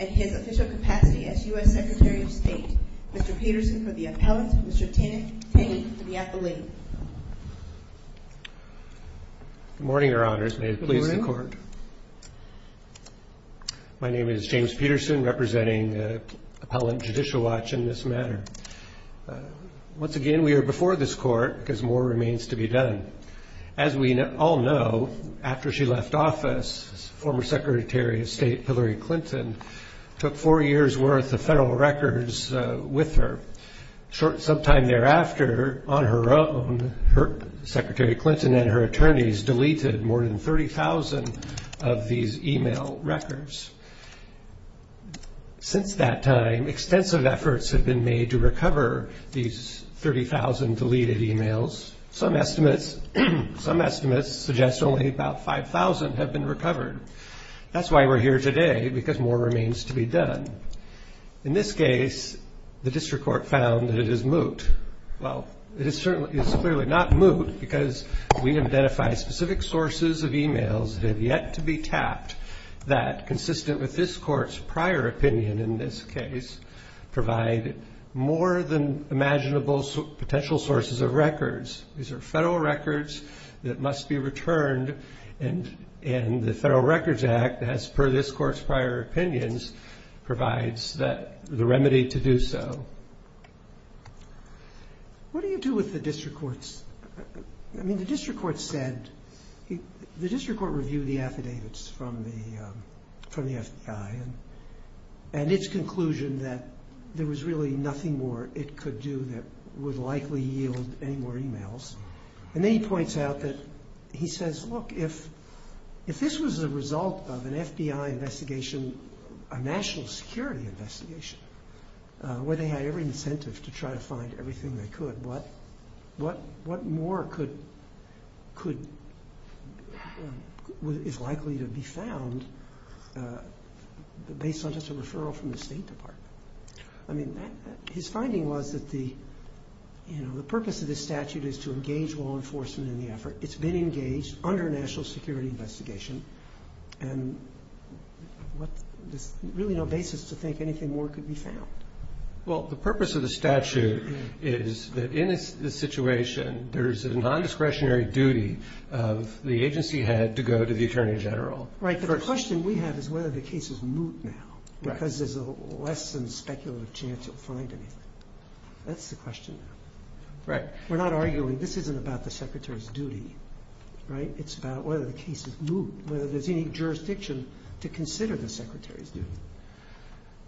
at his official capacity as U.S. Secretary of State. Mr. Peterson for the appellant. Mr. Tenney for the appellate. Good morning, Your Honors. May it please the Court. Good morning. My name is James Peterson, representing Appellant Judicial Watch in this matter. Once again, we are before this Court because more remains to be done. As we all know, after she left office, former Secretary of State Hillary Clinton took four years' worth of federal records with her. Some time thereafter, on her own, Secretary Clinton and her attorneys deleted more than 30,000 of these e-mail records. Since that time, extensive efforts have been made to recover these 30,000 deleted e-mails. Some estimates suggest only about 5,000 have been recovered. That's why we're here today, because more remains to be done. In this case, the District Court found that it is moot. Well, it's clearly not moot, because we identified specific sources of e-mails that have yet to be tapped that, consistent with this Court's prior opinion in this case, provide more than imaginable potential sources of records. These are federal records that must be returned, and the Federal Records Act, as per this Court's prior opinions, provides the remedy to do so. What do you do with the District Courts? The District Court reviewed the affidavits from the FBI and its conclusion that there was really nothing more it could do that would likely yield any more e-mails. And then he points out that he says, look, if this was the result of an FBI investigation, a national security investigation, where they had every incentive to try to find everything they could, what more is likely to be found based on just a referral from the State Department? I mean, his finding was that the purpose of this statute is to engage law enforcement in the effort. It's been engaged under a national security investigation, and there's really no basis to think anything more could be found. Well, the purpose of the statute is that in this situation, there's a nondiscretionary duty of the agency head to go to the Attorney General. Right, but the question we have is whether the case is moot now, because there's a less than speculative chance you'll find anything. That's the question. Right. We're not arguing this isn't about the Secretary's duty, right? It's about whether the case is moot, whether there's any jurisdiction to consider the Secretary's duty.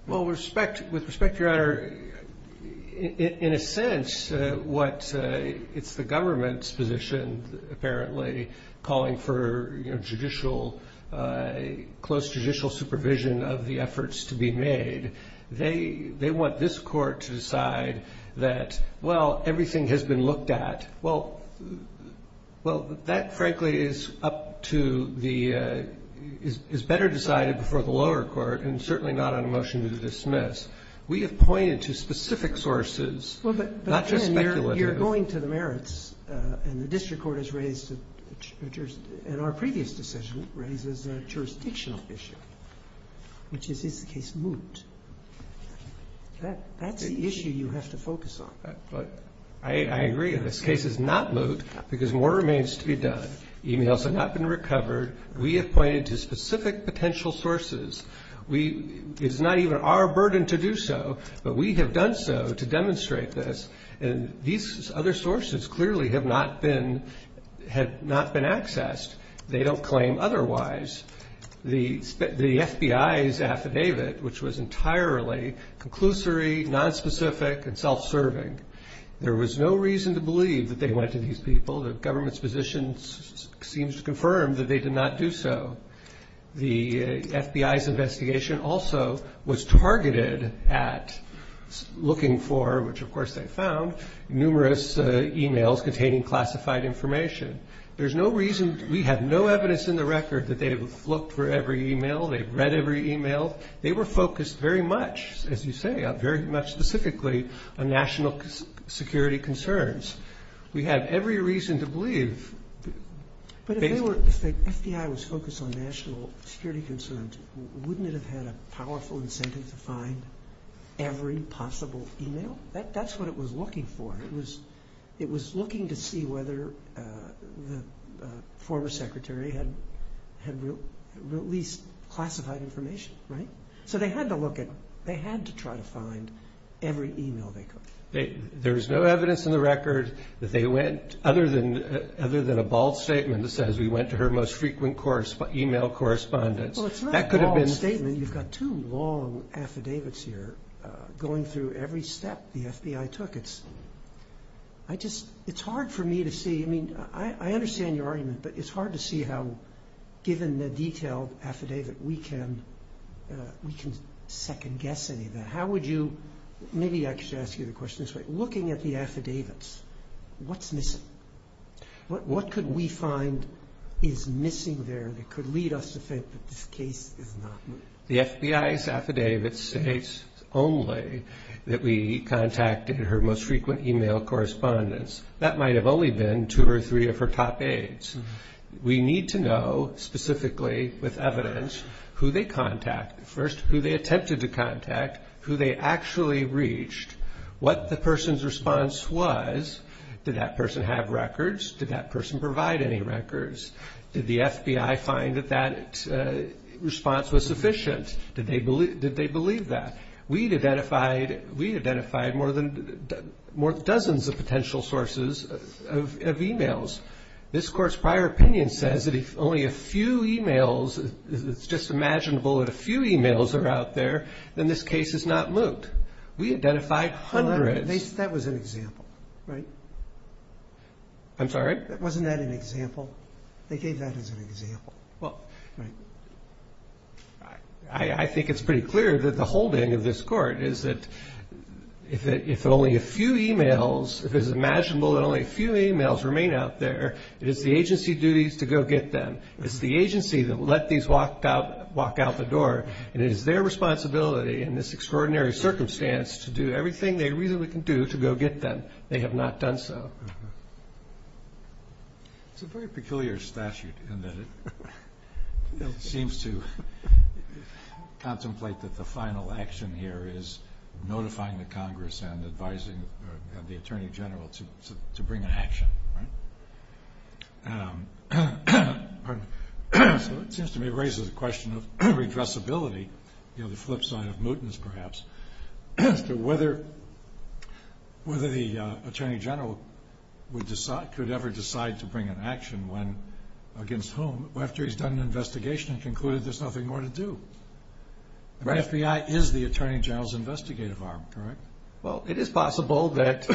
Well, with respect, Your Honor, in a sense, it's the government's position, apparently, calling for close judicial supervision of the efforts to be made. They want this Court to decide that, well, everything has been looked at. Well, that, frankly, is up to the – is better decided before the lower court, and certainly not on a motion to dismiss. We have pointed to specific sources, not just speculative. You're going to the merits, and the district court has raised – and our previous decision raises a jurisdictional issue, which is, is the case moot? That's the issue you have to focus on. I agree. This case is not moot because more remains to be done. Emails have not been recovered. We have pointed to specific potential sources. It is not even our burden to do so, but we have done so to demonstrate this, and these other sources clearly have not been accessed. They don't claim otherwise. The FBI's affidavit, which was entirely conclusory, nonspecific, and self-serving, there was no reason to believe that they went to these people. The government's position seems to confirm that they did not do so. The FBI's investigation also was targeted at looking for, which of course they found, numerous emails containing classified information. There's no reason – we have no evidence in the record that they have looked for every email, they've read every email. They were focused very much, as you say, very much specifically on national security concerns. We have every reason to believe that they were – If the FBI was focused on national security concerns, wouldn't it have had a powerful incentive to find every possible email? That's what it was looking for. It was looking to see whether the former secretary had released classified information, right? So they had to look at – they had to try to find every email they could. There's no evidence in the record that they went, other than a bald statement that says, we went to her most frequent email correspondence. That could have been – Well, it's not a bald statement. You've got two long affidavits here going through every step the FBI took. It's hard for me to see – I mean, I understand your argument, but it's hard to see how, given the detailed affidavit, we can second-guess any of that. How would you – maybe I should ask you the question this way. Looking at the affidavits, what's missing? What could we find is missing there that could lead us to think that this case is not – The FBI's affidavit states only that we contacted her most frequent email correspondence. That might have only been two or three of her top aides. We need to know specifically, with evidence, who they contacted. First, who they attempted to contact, who they actually reached, what the person's response was. Did that person have records? Did that person provide any records? Did the FBI find that that response was sufficient? Did they believe that? We'd identified more than – dozens of potential sources of emails. This Court's prior opinion says that if only a few emails – it's just imaginable that a few emails are out there, then this case is not moot. We identified hundreds. That was an example, right? I'm sorry? Wasn't that an example? They gave that as an example. Well, I think it's pretty clear that the holding of this Court is that if only a few emails – It is the agency duties to go get them. It's the agency that let these walk out the door. And it is their responsibility in this extraordinary circumstance to do everything they reasonably can do to go get them. They have not done so. It's a very peculiar statute in that it seems to contemplate that the final action here is notifying the Congress and advising the Attorney General to bring an action. So it seems to me it raises the question of redressability, the flip side of mootens perhaps, as to whether the Attorney General could ever decide to bring an action against whom after he's done an investigation and concluded there's nothing more to do. The FBI is the Attorney General's investigative arm, correct? Well, it is possible that,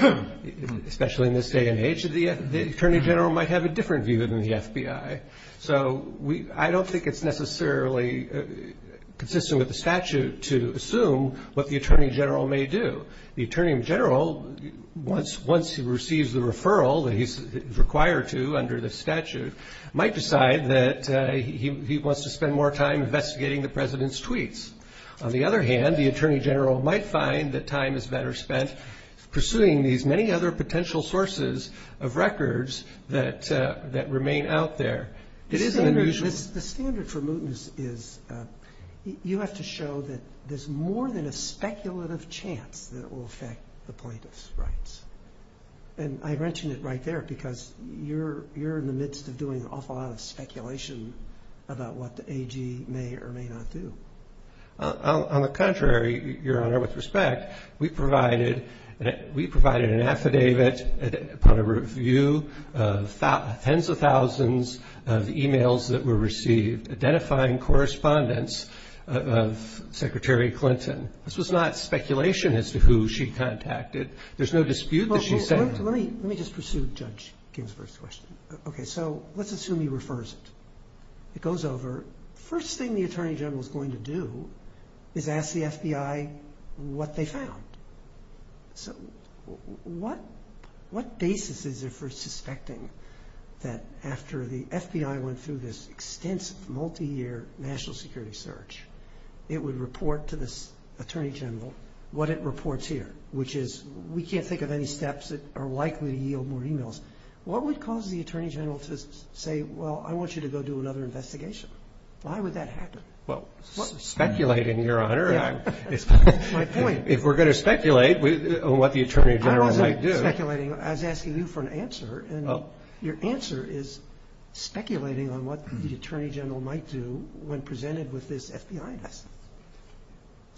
especially in this day and age, the Attorney General might have a different view than the FBI. So I don't think it's necessarily consistent with the statute to assume what the Attorney General may do. The Attorney General, once he receives the referral that he's required to under the statute, might decide that he wants to spend more time investigating the President's tweets. On the other hand, the Attorney General might find that time is better spent pursuing these many other potential sources of records that remain out there. The standard for mootens is you have to show that there's more than a speculative chance that it will affect the plaintiff's rights. And I mentioned it right there because you're in the midst of doing an awful lot of speculation about what the AG may or may not do. On the contrary, Your Honor, with respect, we provided an affidavit upon a review of tens of thousands of emails that were received identifying correspondence of Secretary Clinton. This was not speculation as to who she contacted. There's no dispute that she sent them. Let me just pursue Judge Ginsburg's question. Okay. So let's assume he refers it. It goes over. First thing the Attorney General is going to do is ask the FBI what they found. So what basis is there for suspecting that after the FBI went through this extensive, multiyear national security search, it would report to this Attorney General what it reports here, which is we can't think of any steps that are likely to yield more emails. What would cause the Attorney General to say, well, I want you to go do another investigation? Why would that happen? Well, speculating, Your Honor. That's my point. If we're going to speculate on what the Attorney General might do. I wasn't speculating. I was asking you for an answer. And your answer is speculating on what the Attorney General might do when presented with this FBI investigation.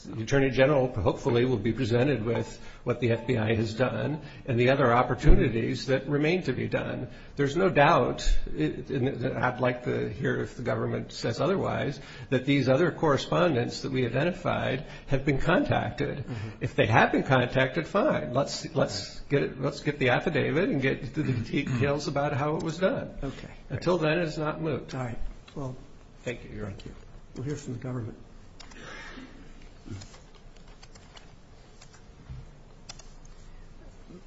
The Attorney General hopefully will be presented with what the FBI has done and the other opportunities that remain to be done. There's no doubt, like here if the government says otherwise, that these other correspondents that we identified have been contacted. If they have been contacted, fine. Let's get the affidavit and get to the details about how it was done. Okay. Until then, it's not moot. All right. Well, thank you, Your Honor. Thank you. We'll hear from the government.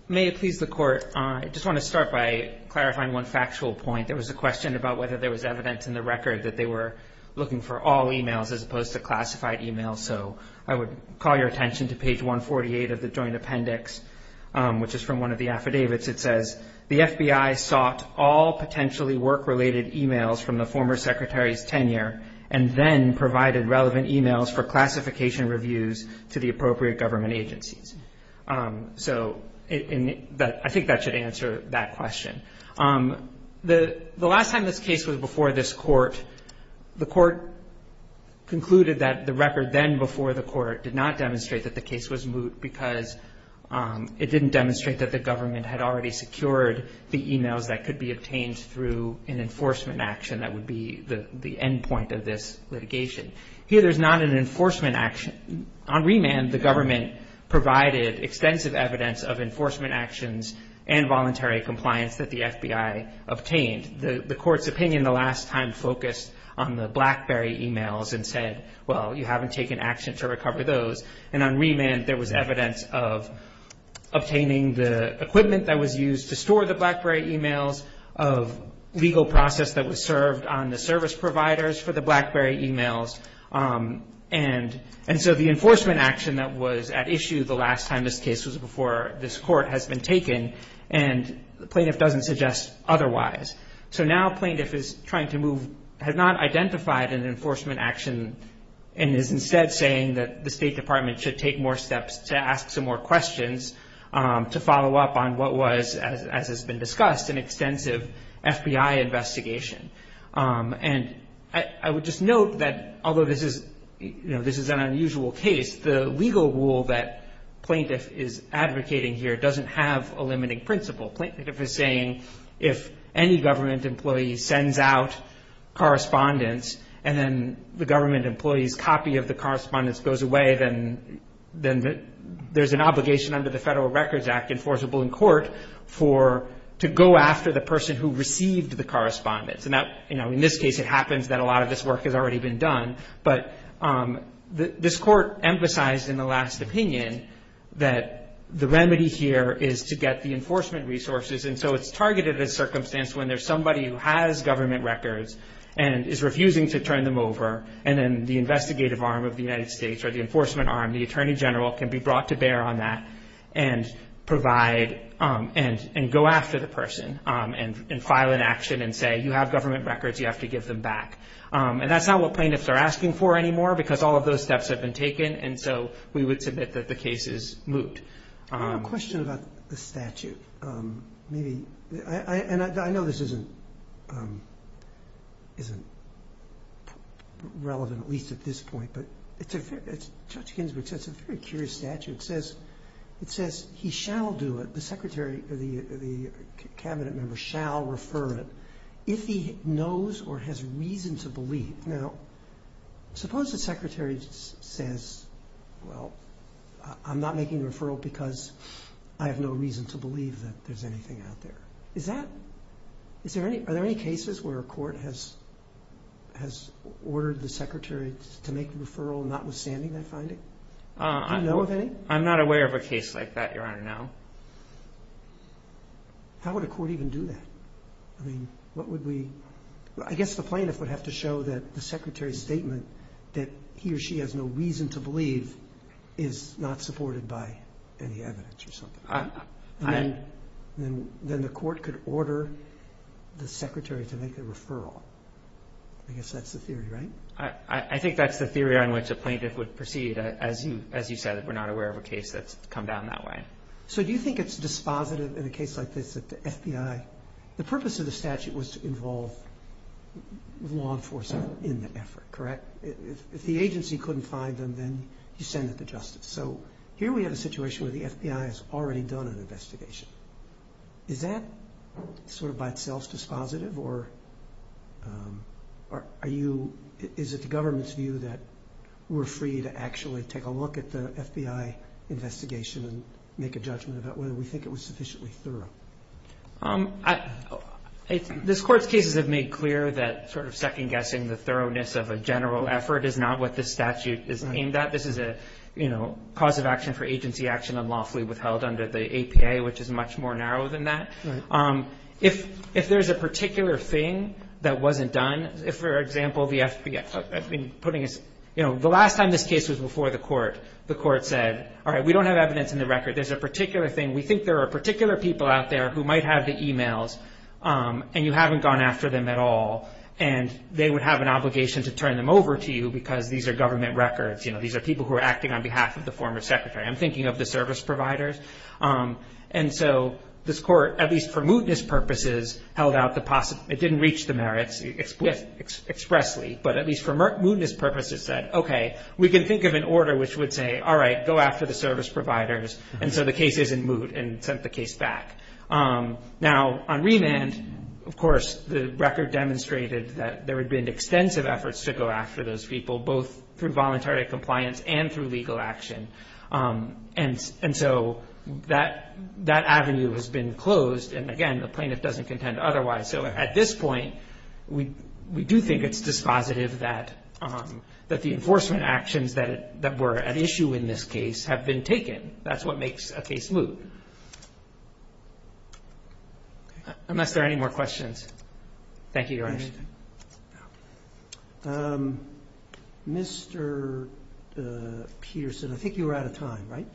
May it please the Court, I just want to start by clarifying one factual point. There was a question about whether there was evidence in the record that they were looking for all emails as opposed to classified emails. So I would call your attention to page 148 of the joint appendix, which is from one of the affidavits. It says, the FBI sought all potentially work-related emails from the former secretary's tenure and then provided relevant emails for classification reviews to the appropriate government agencies. So I think that should answer that question. The last time this case was before this Court, the Court concluded that the record then before the Court did not demonstrate that the case was moot because it didn't demonstrate that the government had already secured the emails that could be obtained through an enforcement action that would be the end point of this litigation. Here there's not an enforcement action. On remand, the government provided extensive evidence of enforcement actions and voluntary compliance that the FBI obtained. The Court's opinion the last time focused on the BlackBerry emails and said, well, you haven't taken action to recover those. And on remand, there was evidence of obtaining the equipment that was used to store the BlackBerry emails, of legal process that was served on the service providers for the BlackBerry emails. And so the enforcement action that was at issue the last time this case was before this Court has been taken, and the plaintiff doesn't suggest otherwise. So now plaintiff is trying to move, has not identified an enforcement action and is instead saying that the State Department should take more steps to ask some more questions to follow up on what was, as has been discussed, an extensive FBI investigation. And I would just note that although this is an unusual case, the legal rule that plaintiff is advocating here doesn't have a limiting principle. Plaintiff is saying if any government employee sends out correspondence and then the government employee's copy of the correspondence goes away, then there's an obligation under the Federal Records Act enforceable in court for to go after the person who received the correspondence. And that, you know, in this case it happens that a lot of this work has already been done. But this Court emphasized in the last opinion that the remedy here is to get the enforcement resources. And so it's targeted as circumstance when there's somebody who has government records and is refusing to turn them over and then the investigative arm of the United States or the enforcement arm, the attorney general, can be brought to bear on that and provide and go after the person and file an action and say you have government records, you have to give them back. And that's not what plaintiffs are asking for anymore because all of those steps have been taken. And so we would submit that the case is moot. I have a question about the statute. And I know this isn't relevant, at least at this point, but Judge Ginsburg says it's a very curious statute. It says he shall do it, the cabinet member shall refer it, if he knows or has reason to believe. Now, suppose the secretary says, well, I'm not making the referral because I have no reason to believe that there's anything out there. Are there any cases where a court has ordered the secretary to make the referral notwithstanding that finding? Do you know of any? I'm not aware of a case like that, Your Honor, no. How would a court even do that? I guess the plaintiff would have to show that the secretary's statement that he or she has no reason to believe is not supported by any evidence or something. Then the court could order the secretary to make the referral. I guess that's the theory, right? I think that's the theory on which a plaintiff would proceed, as you said, that we're not aware of a case that's come down that way. So do you think it's dispositive in a case like this that the FBI, the purpose of the statute was to involve law enforcement in the effort, correct? If the agency couldn't find them, then you send it to justice. So here we have a situation where the FBI has already done an investigation. Is that sort of by itself dispositive, or is it the government's view that we're free to actually take a look at the FBI investigation and make a judgment about whether we think it was sufficiently thorough? This Court's cases have made clear that sort of second-guessing the thoroughness of a general effort is not what this statute is aimed at. This is a cause of action for agency action unlawfully withheld under the APA, which is much more narrow than that. If there's a particular thing that wasn't done, for example, the last time this case was before the Court, the Court said, all right, we don't have evidence in the record. There's a particular thing. We think there are particular people out there who might have the e-mails, and you haven't gone after them at all, and they would have an obligation to turn them over to you, because these are government records. You know, these are people who are acting on behalf of the former secretary. I'm thinking of the service providers. And so this Court, at least for mootness purposes, held out the possible ñ it didn't reach the merits expressly, but at least for mootness purposes said, okay, we can think of an order which would say, all right, go after the service providers, and so the case is in moot and sent the case back. Now, on remand, of course, the record demonstrated that there had been extensive efforts to go after those people, both through voluntary compliance and through legal action. And so that avenue has been closed, and again, the plaintiff doesn't contend otherwise. So at this point, we do think it's dispositive that the enforcement actions that were at issue in this case have been taken. That's what makes a case moot. Unless there are any more questions. Thank you, Your Honor. Mr. Peterson, I think you were out of time, right?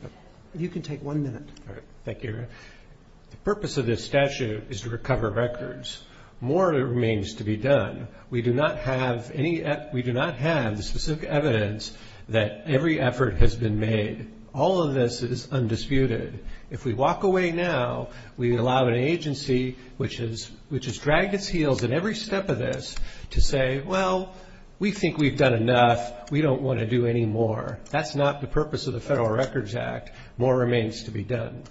You can take one minute. Thank you, Your Honor. The purpose of this statute is to recover records. More remains to be done. We do not have any ñ we do not have the specific evidence that every effort has been made. All of this is undisputed. If we walk away now, we allow an agency which has dragged its heels in every step of this to say, well, we think we've done enough, we don't want to do any more. That's not the purpose of the Federal Records Act. More remains to be done.